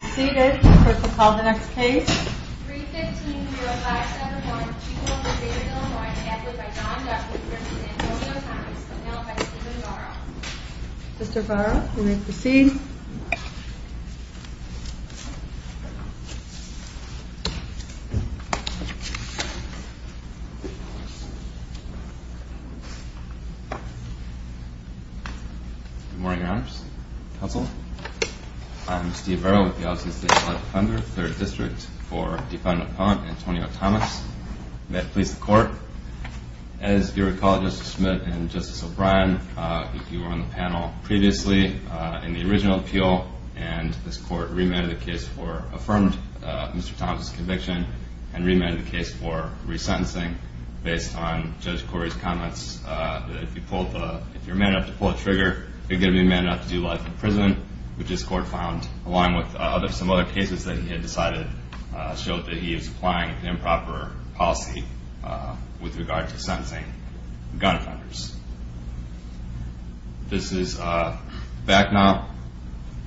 Seated, clerk will call the next case. 315-0571, Chico, Nevada, Illinois. Address by Don Duffy, Princeton, San Antonio County. Settled by Stephen Varro. Mr. Varro, you may proceed. Good morning, Your Honors, Counsel. I am Steve Varro with the Aussie State Collective Funders, 3rd District, for Defendant Appellant Antonio Thomas. May it please the Court. As you recall, Justice Smith and Justice O'Brien, if you were on the panel previously, in the original appeal, and this Court remanded the case for affirmed Mr. Thomas' conviction and remanded the case for resentencing based on Judge Corey's comments that if you're man enough to pull the trigger, you're going to be man enough to do life in prison, which this Court found, along with some other cases that he had decided, showed that he was applying an improper policy with regard to sentencing gun offenders. This is back now,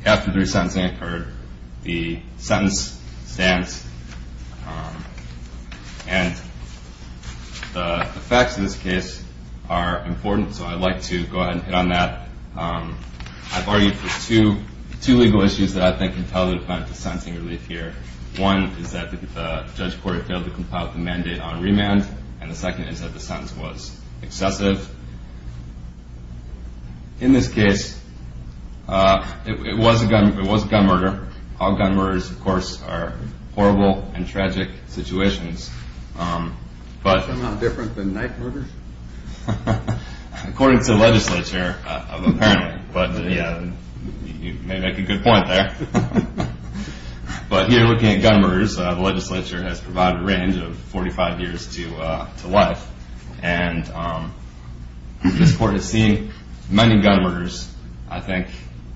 after the resentencing occurred, the sentence stands, and the facts of this case are important, so I'd like to go ahead and hit on that. I've argued for two legal issues that I think can tell the defense of sentencing relief here. One is that Judge Corey failed to compile the mandate on remand, and the second is that the sentence was excessive. In this case, it was a gun murder. All gun murders, of course, are horrible and tragic situations. Isn't that different than knife murders? According to the legislature, apparently, but you may make a good point there. But here, looking at gun murders, the legislature has provided a range of 45 years to life, and this Court has seen many gun murders. I think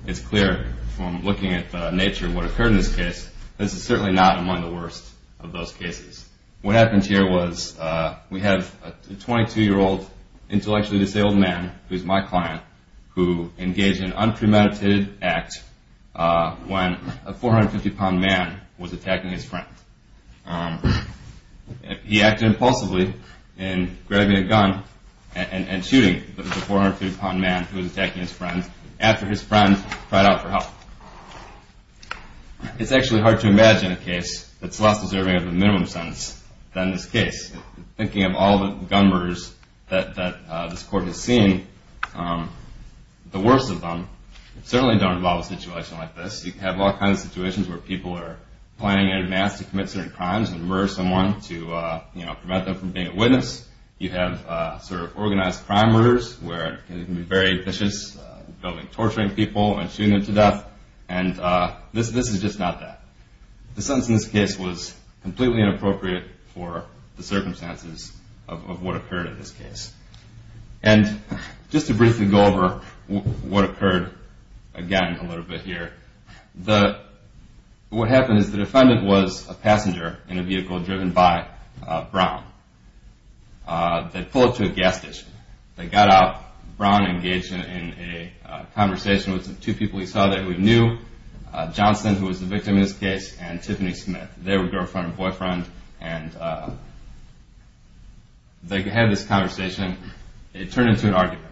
it's clear from looking at the nature of what occurred in this case, this is certainly not among the worst of those cases. What happened here was we have a 22-year-old, intellectually disabled man, who is my client, who engaged in an unpremeditated act when a 450-pound man was attacking his friend. He acted impulsively in grabbing a gun and shooting the 450-pound man who was attacking his friend after his friend cried out for help. It's actually hard to imagine a case that's less deserving of a minimum sentence than this case. Thinking of all the gun murders that this Court has seen, the worst of them certainly don't involve a situation like this. You have all kinds of situations where people are planning in advance to commit certain crimes and murder someone to prevent them from being a witness. You have organized crime murders where it can be very vicious, building, torturing people and shooting them to death. This is just not that. The sentence in this case was completely inappropriate for the circumstances of what occurred in this case. Just to briefly go over what occurred again a little bit here. What happened is the defendant was a passenger in a vehicle driven by Brown. They pulled up to a gas station. They got out. Brown engaged in a conversation with two people he saw that he knew, Johnson, who was the victim in this case, and Tiffany Smith, their girlfriend and boyfriend. They had this conversation. It turned into an argument.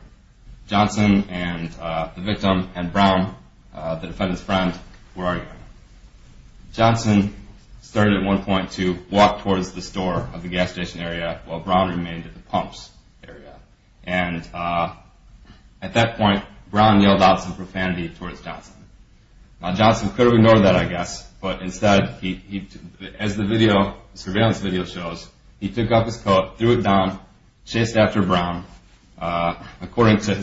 Johnson, the victim, and Brown, the defendant's friend, were arguing. Johnson started at one point to walk towards the store of the gas station area while Brown remained at the pumps area. At that point, Brown yelled out some profanity towards Johnson. Johnson could have ignored that, I guess, but instead, as the surveillance video shows, he took off his coat, threw it down, chased after Brown. According to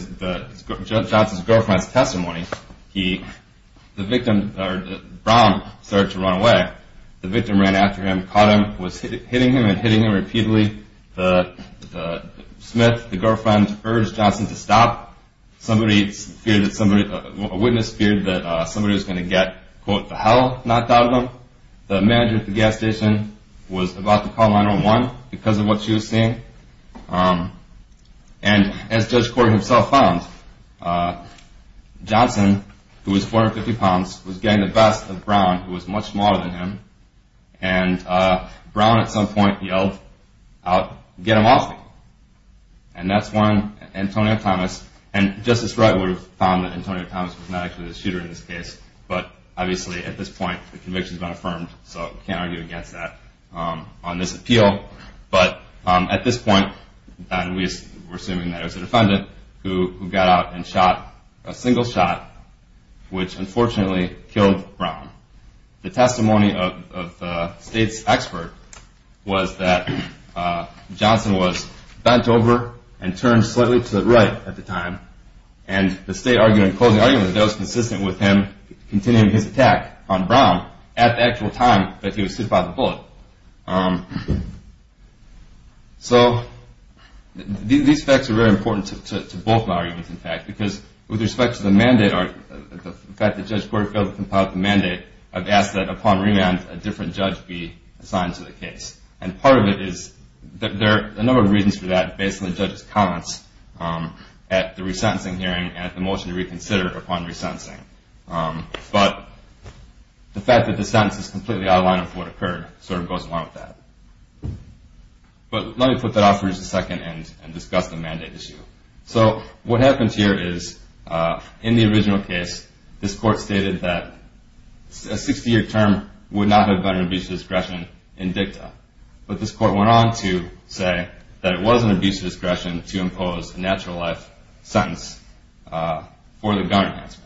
Johnson's girlfriend's testimony, Brown started to run away. The victim ran after him, caught him, was hitting him and hitting him repeatedly. Smith, the girlfriend, urged Johnson to stop. A witness feared that somebody was going to get, quote, the hell knocked out of them. The manager at the gas station was about to call 9-1-1 because of what she was seeing. As Judge Corey himself found, Johnson, who was 450 pounds, was getting the best of Brown, who was much smaller than him. Brown, at some point, yelled out, get him off me. And that's when Antonio Thomas, and Justice Wright would have found that Antonio Thomas was not actually the shooter in this case, but obviously, at this point, the conviction has been affirmed, so we can't argue against that on this appeal. But at this point, we're assuming that it was the defendant who got out and shot a single shot, which unfortunately killed Brown. The testimony of the state's expert was that Johnson was bent over and turned slightly to the right at the time, and the state argued in closing argument that it was consistent with him continuing his attack on Brown at the actual time that he was hit by the bullet. So these facts are very important to both arguments, in fact, because with respect to the mandate, I've asked that upon remand, a different judge be assigned to the case. And part of it is that there are a number of reasons for that based on the judge's comments at the resentencing hearing and at the motion to reconsider upon resentencing. But the fact that the sentence is completely out of line with what occurred sort of goes along with that. But let me put that off for just a second and discuss the mandate issue. So what happens here is in the original case, this court stated that a 60-year term would not have been an abuse of discretion in dicta. But this court went on to say that it was an abuse of discretion to impose a natural life sentence for the gun enhancement.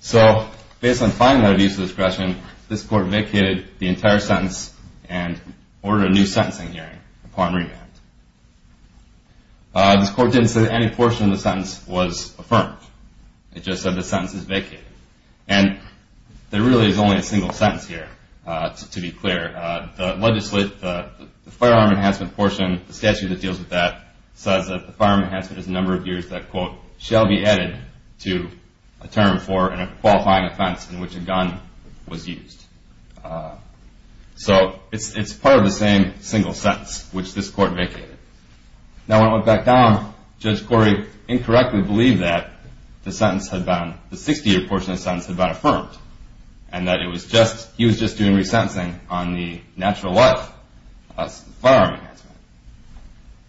So based on finding that abuse of discretion, this court vacated the entire sentence and ordered a new sentencing hearing upon remand. This court didn't say that any portion of the sentence was affirmed. It just said the sentence is vacated. And there really is only a single sentence here, to be clear. The firearm enhancement portion, the statute that deals with that, says that the firearm enhancement is a number of years that, quote, shall be added to a term for a qualifying offense in which a gun was used. So it's part of the same single sentence, which this court vacated. Now, when it went back down, Judge Corey incorrectly believed that the 60-year portion of the sentence had been affirmed and that he was just doing resentencing on the natural life firearm enhancement.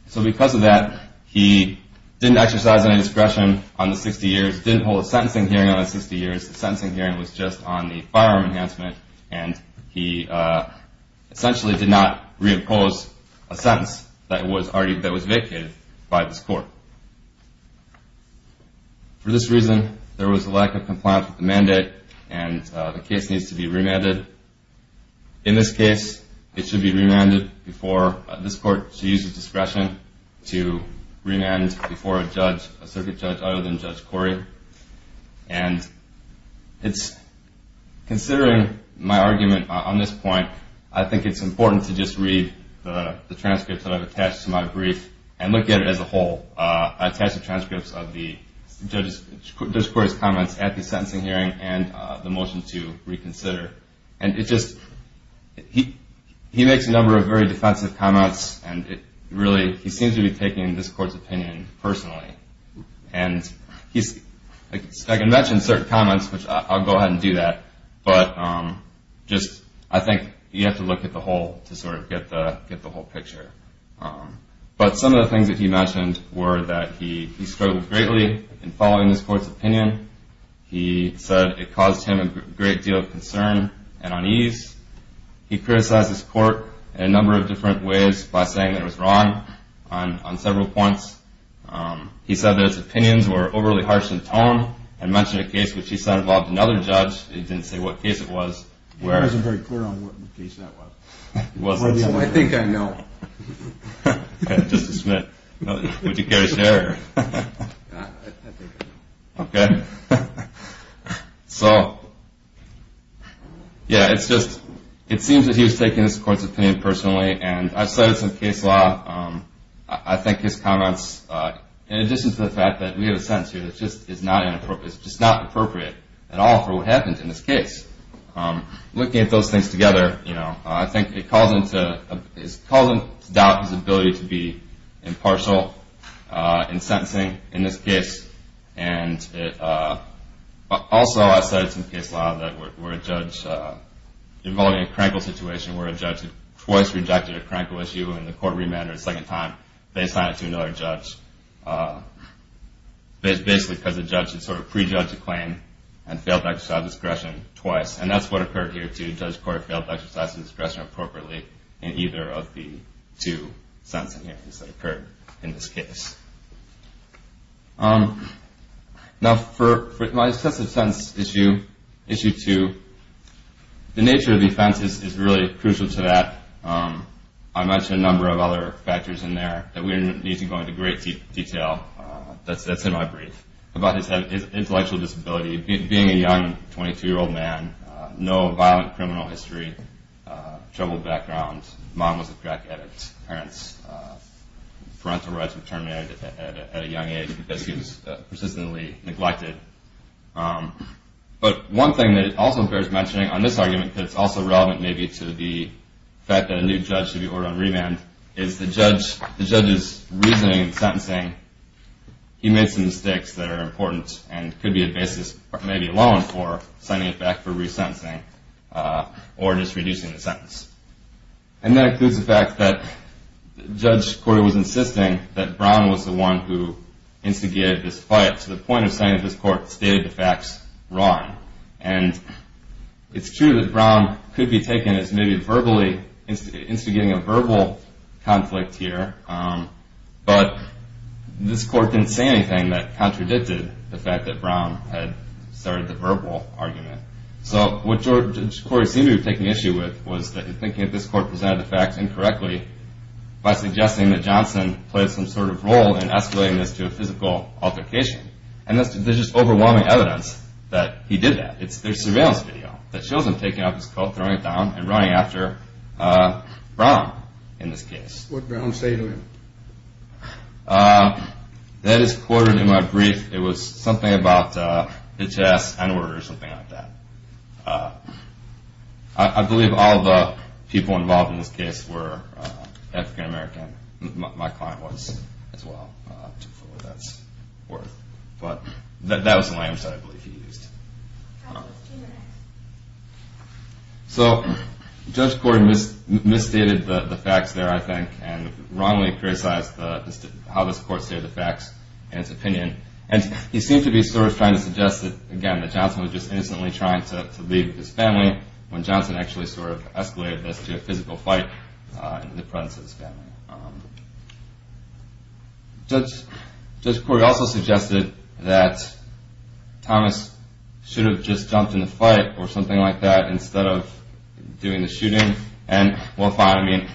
So because of that, he didn't exercise any discretion on the 60 years, didn't hold a sentencing hearing on the 60 years. The sentencing hearing was just on the firearm enhancement, and he essentially did not reimpose a sentence that was vacated by this court. For this reason, there was a lack of compliance with the mandate, and the case needs to be remanded. In this case, it should be remanded before this court to use its discretion to remand before a circuit judge other than Judge Corey. And considering my argument on this point, I think it's important to just read the transcripts that I've attached to my brief and look at it as a whole. I attached the transcripts of Judge Corey's comments at the sentencing hearing and the motion to reconsider. And he makes a number of very defensive comments, and really, he seems to be taking this court's opinion personally. And I can mention certain comments, which I'll go ahead and do that, but I think you have to look at the whole to sort of get the whole picture. But some of the things that he mentioned were that he struggled greatly in following this court's opinion. He said it caused him a great deal of concern and unease. He criticized this court in a number of different ways by saying that it was wrong on several points. He said that its opinions were overly harsh in tone and mentioned a case which he said involved another judge. He didn't say what case it was. He wasn't very clear on what case that was. I think I know. Justice Smith, would you care to share? I think I know. Okay. So, yeah, it's just, it seems that he was taking this court's opinion personally, and I've studied some case law. I think his comments, in addition to the fact that we have a sentence here, it's just not appropriate at all for what happened in this case. Looking at those things together, you know, I think it caused him to doubt his ability to be impartial in sentencing in this case. And also, I've studied some case law that where a judge involved in a crankle situation where a judge had twice rejected a crankle issue and the court remanded a second time, they assigned it to another judge, basically because the judge had sort of pre-judged the claim and failed to exercise discretion twice. And that's what occurred here, too. Judge Corder failed to exercise discretion appropriately in either of the two sentencing hearings that occurred in this case. Now, for my excessive sentence issue, issue two, the nature of the offense is really crucial to that. I mentioned a number of other factors in there that we need to go into great detail. That's in my brief. About his intellectual disability, being a young 22-year-old man, no violent criminal history, troubled background. Mom was a crack addict. Parents' parental rights were terminated at a young age because he was persistently neglected. But one thing that also bears mentioning on this argument that's also relevant maybe to the fact that a new judge should be ordered on remand is the judge's reasoning in sentencing. He made some mistakes that are important and could be a basis, maybe a loan for signing it back for resentencing or just reducing the sentence. And that includes the fact that Judge Corder was insisting that Brown was the one who instigated this fight to the point of saying that this court stated the facts wrong. And it's true that Brown could be taken as maybe verbally instigating a verbal conflict here, but this court didn't say anything that contradicted the fact that Brown had started the verbal argument. So what Judge Corder seemed to be taking issue with was that thinking that this court presented the facts incorrectly by suggesting that Johnson played some sort of role in escalating this to a physical altercation. And there's just overwhelming evidence that he did that. There's surveillance video that shows him taking off his coat, throwing it down, and running after Brown in this case. What did Brown say to him? That is Corder in my brief. It was something about H.S. Enward or something like that. I believe all the people involved in this case were African-American. My client was as well. But that was the language that I believe he used. So Judge Corder misstated the facts there, I think, and wrongly criticized how this court stated the facts in its opinion. And he seemed to be sort of trying to suggest that, again, that Johnson was just innocently trying to leave his family when Johnson actually sort of escalated this to a physical fight in the presence of his family. Judge Corder also suggested that Thomas should have just jumped in the fight or something like that instead of doing the shooting. And we'll find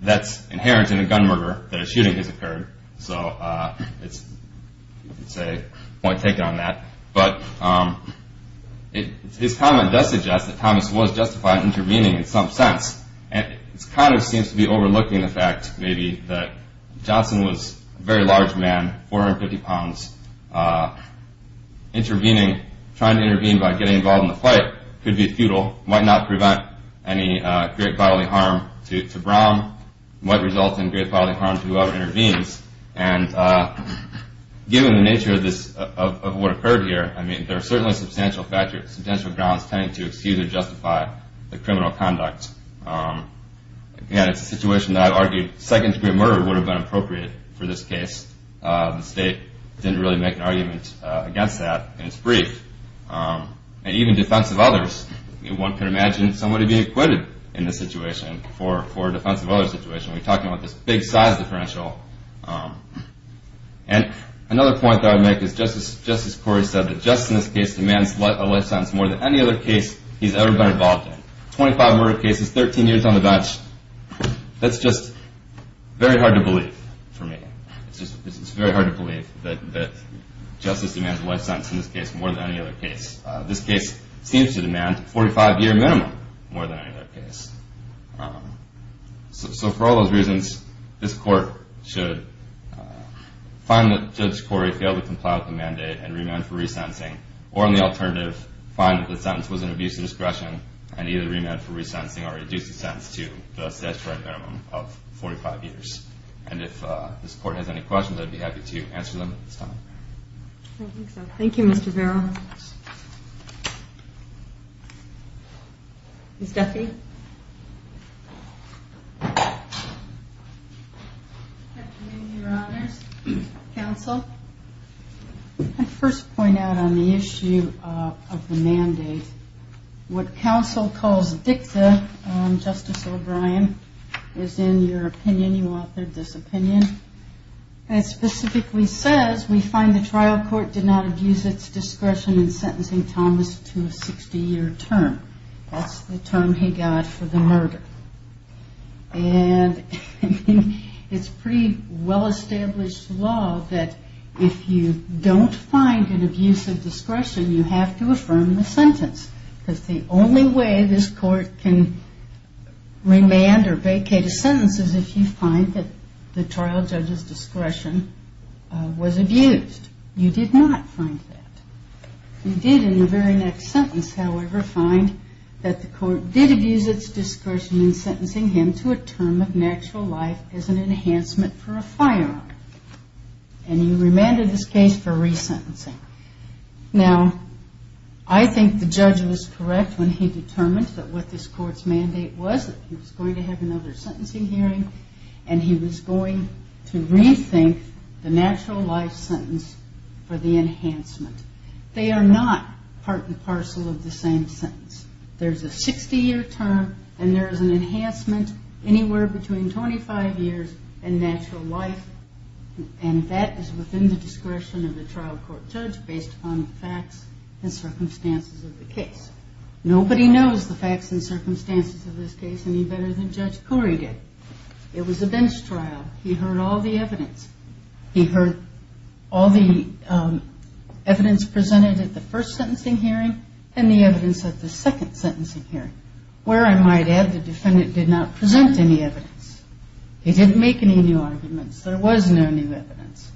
that's inherent in a gun murder, that a shooting has occurred. So it's a point taken on that. But his comment does suggest that Thomas was justified intervening in some sense. And it kind of seems to be overlooking the fact, maybe, that Johnson was a very large man, 450 pounds. Intervening, trying to intervene by getting involved in the fight could be futile, might not prevent any great bodily harm to Brown, might result in great bodily harm to whoever intervenes. And given the nature of what occurred here, I mean, there are certainly substantial grounds tending to excuse or justify the criminal conduct. Again, it's a situation that I've argued second-degree murder would have been appropriate for this case. The state didn't really make an argument against that in its brief. And even defensive of others, one can imagine somebody being acquitted in this situation for a defensive of others situation. We're talking about this big size differential. And another point that I would make is Justice Corey said that justice in this case demands a life sentence more than any other case he's ever been involved in. 25 murder cases, 13 years on the bench. That's just very hard to believe for me. It's very hard to believe that justice demands a life sentence in this case more than any other case. This case seems to demand a 45-year minimum more than any other case. So for all those reasons, this court should find that Judge Corey failed to comply with the mandate and remand for re-sentencing, or on the alternative, find that the sentence was an abuse of discretion and either remand for re-sentencing or reduce the sentence to the statutory minimum of 45 years. And if this court has any questions, I'd be happy to answer them at this time. Thank you, Mr. Barrow. Ms. Duffy? Good afternoon, Your Honors. Counsel, I'd first point out on the issue of the mandate, what counsel calls dicta, Justice O'Brien, is in your opinion, you authored this opinion, and it specifically says, we find the trial court did not abuse its discretion in sentencing Thomas to a 60-year term. That's the term he got for the murder. And it's pretty well-established law that if you don't find an abuse of discretion, you have to affirm the sentence, because the only way this court can remand or vacate a sentence is if you find that the trial judge's discretion was abused. You did not find that. You did in the very next sentence, however, find that the court did abuse its discretion in sentencing him to a term of natural life as an enhancement for a firearm. And you remanded this case for re-sentencing. Now, I think the judge was correct when he determined that what this court's mandate was, that he was going to have another sentencing hearing, and he was going to rethink the natural life sentence for the enhancement. They are not part and parcel of the same sentence. There's a 60-year term, and there's an enhancement anywhere between 25 years and natural life, and that is within the discretion of the trial court judge based upon the facts and circumstances of the case. Nobody knows the facts and circumstances of this case any better than Judge Corey did. It was a bench trial. He heard all the evidence. He heard all the evidence presented at the first sentencing hearing and the evidence at the second sentencing hearing. Where, I might add, the defendant did not present any evidence. He didn't make any new arguments. There was no new evidence.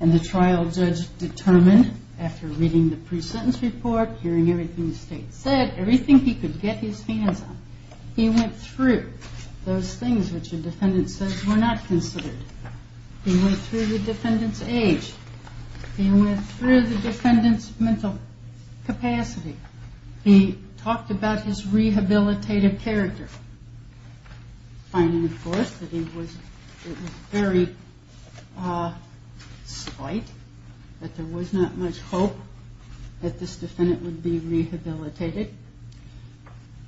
And the trial judge determined, after reading the pre-sentence report, hearing everything the state said, everything he could get his hands on, he went through those things which the defendant says were not considered. He went through the defendant's age. He went through the defendant's mental capacity. He talked about his rehabilitative character. Finding, of course, that it was very slight, that there was not much hope that this defendant would be rehabilitated.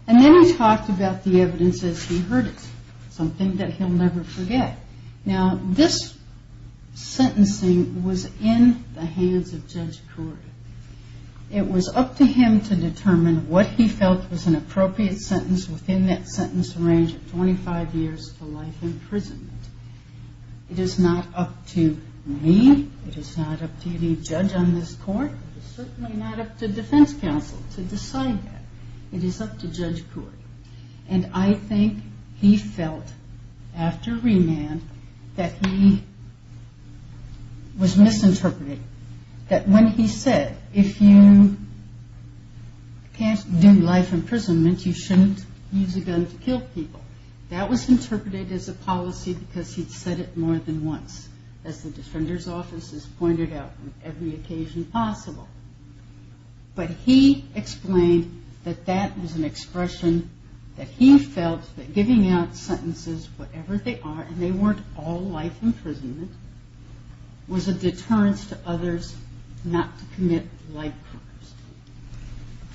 And then he talked about the evidence as he heard it, something that he'll never forget. Now, this sentencing was in the hands of Judge Corey. It was up to him to determine what he felt was an appropriate sentence within that sentence range of 25 years to life imprisonment. It is not up to me. It is not up to any judge on this court. It is certainly not up to defense counsel to decide that. It is up to Judge Corey. And I think he felt, after remand, that he was misinterpreted, that when he said, if you can't do life imprisonment, you shouldn't use a gun to kill people, that was interpreted as a policy because he'd said it more than once, as the defender's offices pointed out on every occasion possible. But he explained that that was an expression that he felt that giving out sentences, whatever they are, and they weren't all life imprisonment, was a deterrence to others not to commit life crimes.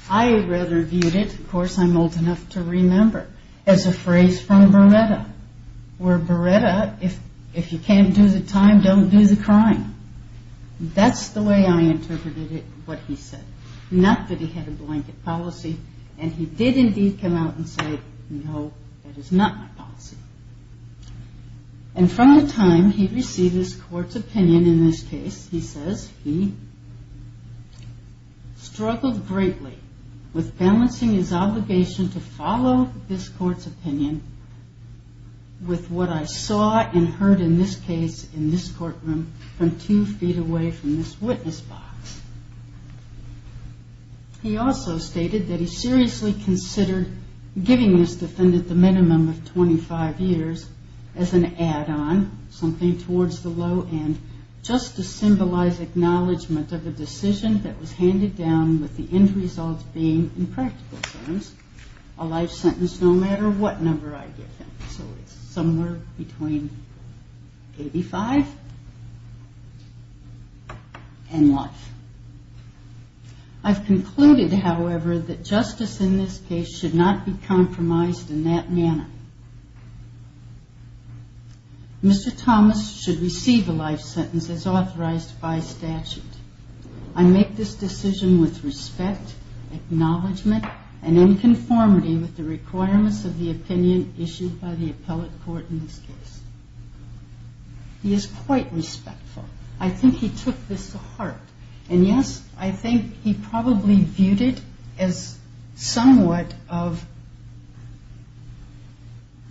I rather viewed it, of course I'm old enough to remember, as a phrase from Beretta, where Beretta, if you can't do the time, don't do the crime. That's the way I interpreted it, what he said. Not that he had a blanket policy, and he did indeed come out and say, no, that is not my policy. And from the time he received this court's opinion in this case, he says, he struggled greatly with balancing his obligation to follow this court's opinion with what I saw and heard in this case, in this courtroom, from two feet away from this witness box. He also stated that he seriously considered giving this defendant at the minimum of 25 years as an add-on, something towards the low end, just to symbolize acknowledgment of a decision that was handed down with the end result being, in practical terms, a life sentence no matter what number I give him. So it's somewhere between 85 and life. I've concluded, however, that justice in this case should not be compromised in that manner. Mr. Thomas should receive a life sentence as authorized by statute. I make this decision with respect, acknowledgement, and in conformity with the requirements of the opinion issued by the appellate court in this case. He is quite respectful. I think he took this to heart. And, yes, I think he probably viewed it as somewhat of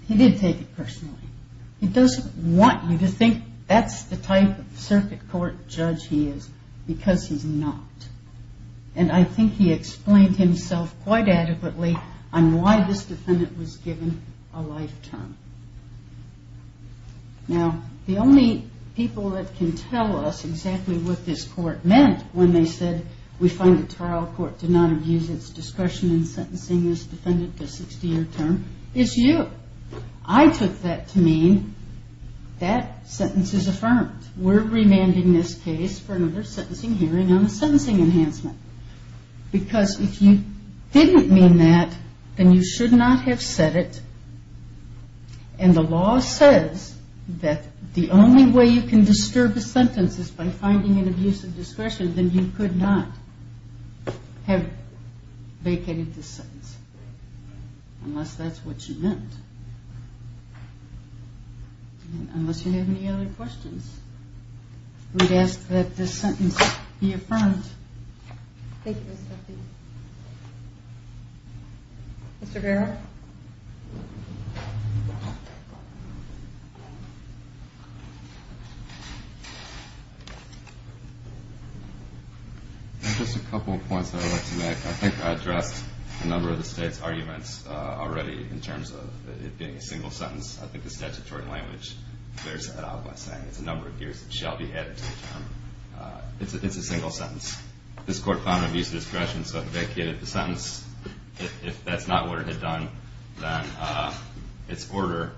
he did take it personally. He doesn't want you to think that's the type of circuit court judge he is because he's not. And I think he explained himself quite adequately on why this defendant was given a life term. Now, the only people that can tell us exactly what this court meant when they said we find the trial court to not abuse its discretion in sentencing this defendant to a 60-year term is you. I took that to mean that sentence is affirmed. We're remanding this case for another sentencing hearing on a sentencing enhancement. Because if you didn't mean that, then you should not have said it And the law says that the only way you can disturb the sentence is by finding an abuse of discretion, then you could not have vacated this sentence unless that's what you meant. Unless you have any other questions, we'd ask that this sentence be affirmed. Thank you, Ms. Murphy. Mr. Barrow? Just a couple of points I would like to make. I think I addressed a number of the State's arguments already in terms of it being a single sentence. I think the statutory language clears that out by saying it's a number of years, it shall be added to the term. It's a single sentence. This Court found an abuse of discretion, so it vacated the sentence. If that's not what it had done, then its order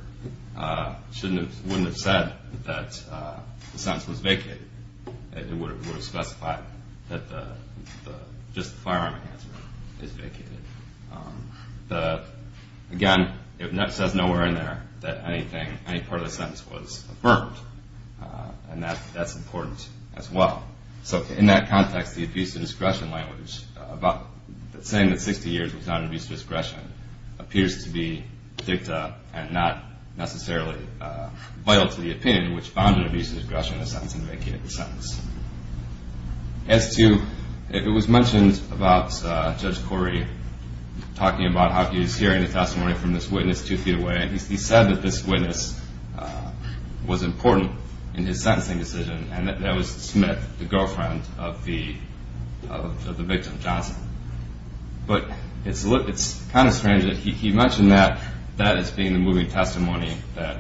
wouldn't have said that the sentence was vacated. It would have specified that just the firearm enhancement is vacated. Again, it says nowhere in there that any part of the sentence was affirmed, and that's important as well. So in that context, the abuse of discretion language, saying that 60 years was not an abuse of discretion, appears to be dicta and not necessarily vital to the opinion which found an abuse of discretion in the sentence and vacated the sentence. As to if it was mentioned about Judge Corey talking about how he was hearing the testimony from this witness two feet away, and he said that this witness was important in his sentencing decision, and that was Smith, the girlfriend of the victim, Johnson. But it's kind of strange that he mentioned that as being the moving testimony that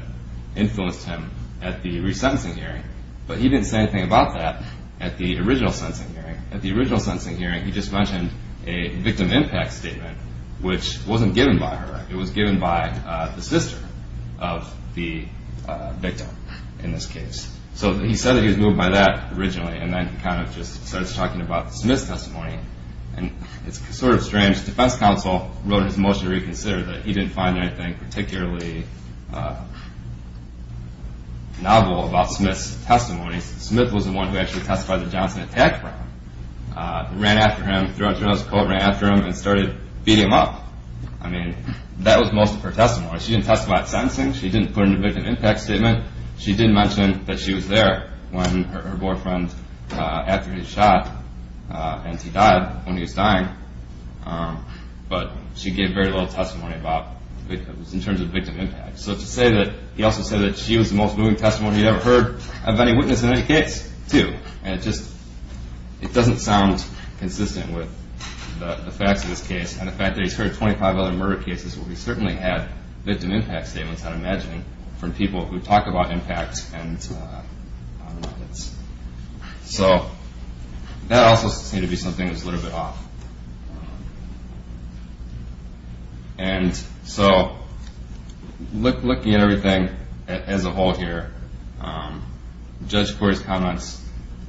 influenced him at the resentencing hearing, but he didn't say anything about that at the original sentencing hearing. At the original sentencing hearing, he just mentioned a victim impact statement, which wasn't given by her. It was given by the sister of the victim in this case. So he said that he was moved by that originally, and then he kind of just started talking about Smith's testimony. And it's sort of strange. The defense counsel wrote in his motion to reconsider that he didn't find anything particularly novel about Smith's testimony. Smith was the one who actually testified that Johnson attacked her. Ran after him, threw on his coat, ran after him, and started beating him up. I mean, that was most of her testimony. She didn't testify at sentencing. She didn't put in a victim impact statement. She did mention that she was there when her boyfriend, after he was shot, and he died when he was dying. But she gave very little testimony in terms of victim impact. So to say that he also said that she was the most moving testimony he'd ever heard of any witness in any case, too. And it just doesn't sound consistent with the facts of this case. And the fact that he's heard 25 other murder cases where he certainly had victim impact statements, I'd imagine, from people who talk about impact. So that also seemed to be something that was a little bit off. And so looking at everything as a whole here, Judge Corey's comments,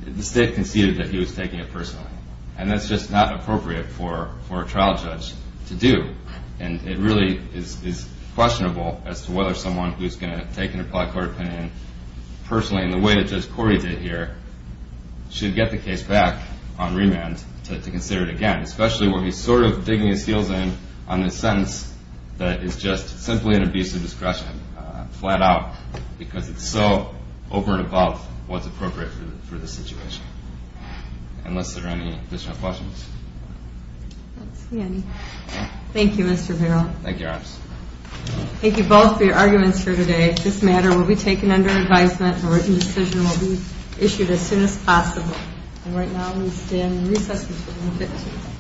the state conceded that he was taking it personally. And that's just not appropriate for a trial judge to do. And it really is questionable as to whether someone who's going to take an applied court opinion personally, in the way that Judge Corey did here, should get the case back on remand to consider it again. Especially when he's sort of digging his heels in on a sentence that is just simply an abuse of discretion, flat out, because it's so over and above what's appropriate for the situation. Unless there are any additional questions. That's the end. Thank you, Mr. Barrow. Thank you, Your Honor. Thank you both for your arguments for today. This matter will be taken under advisement. A written decision will be issued as soon as possible. And right now we stand in recess until 1.15.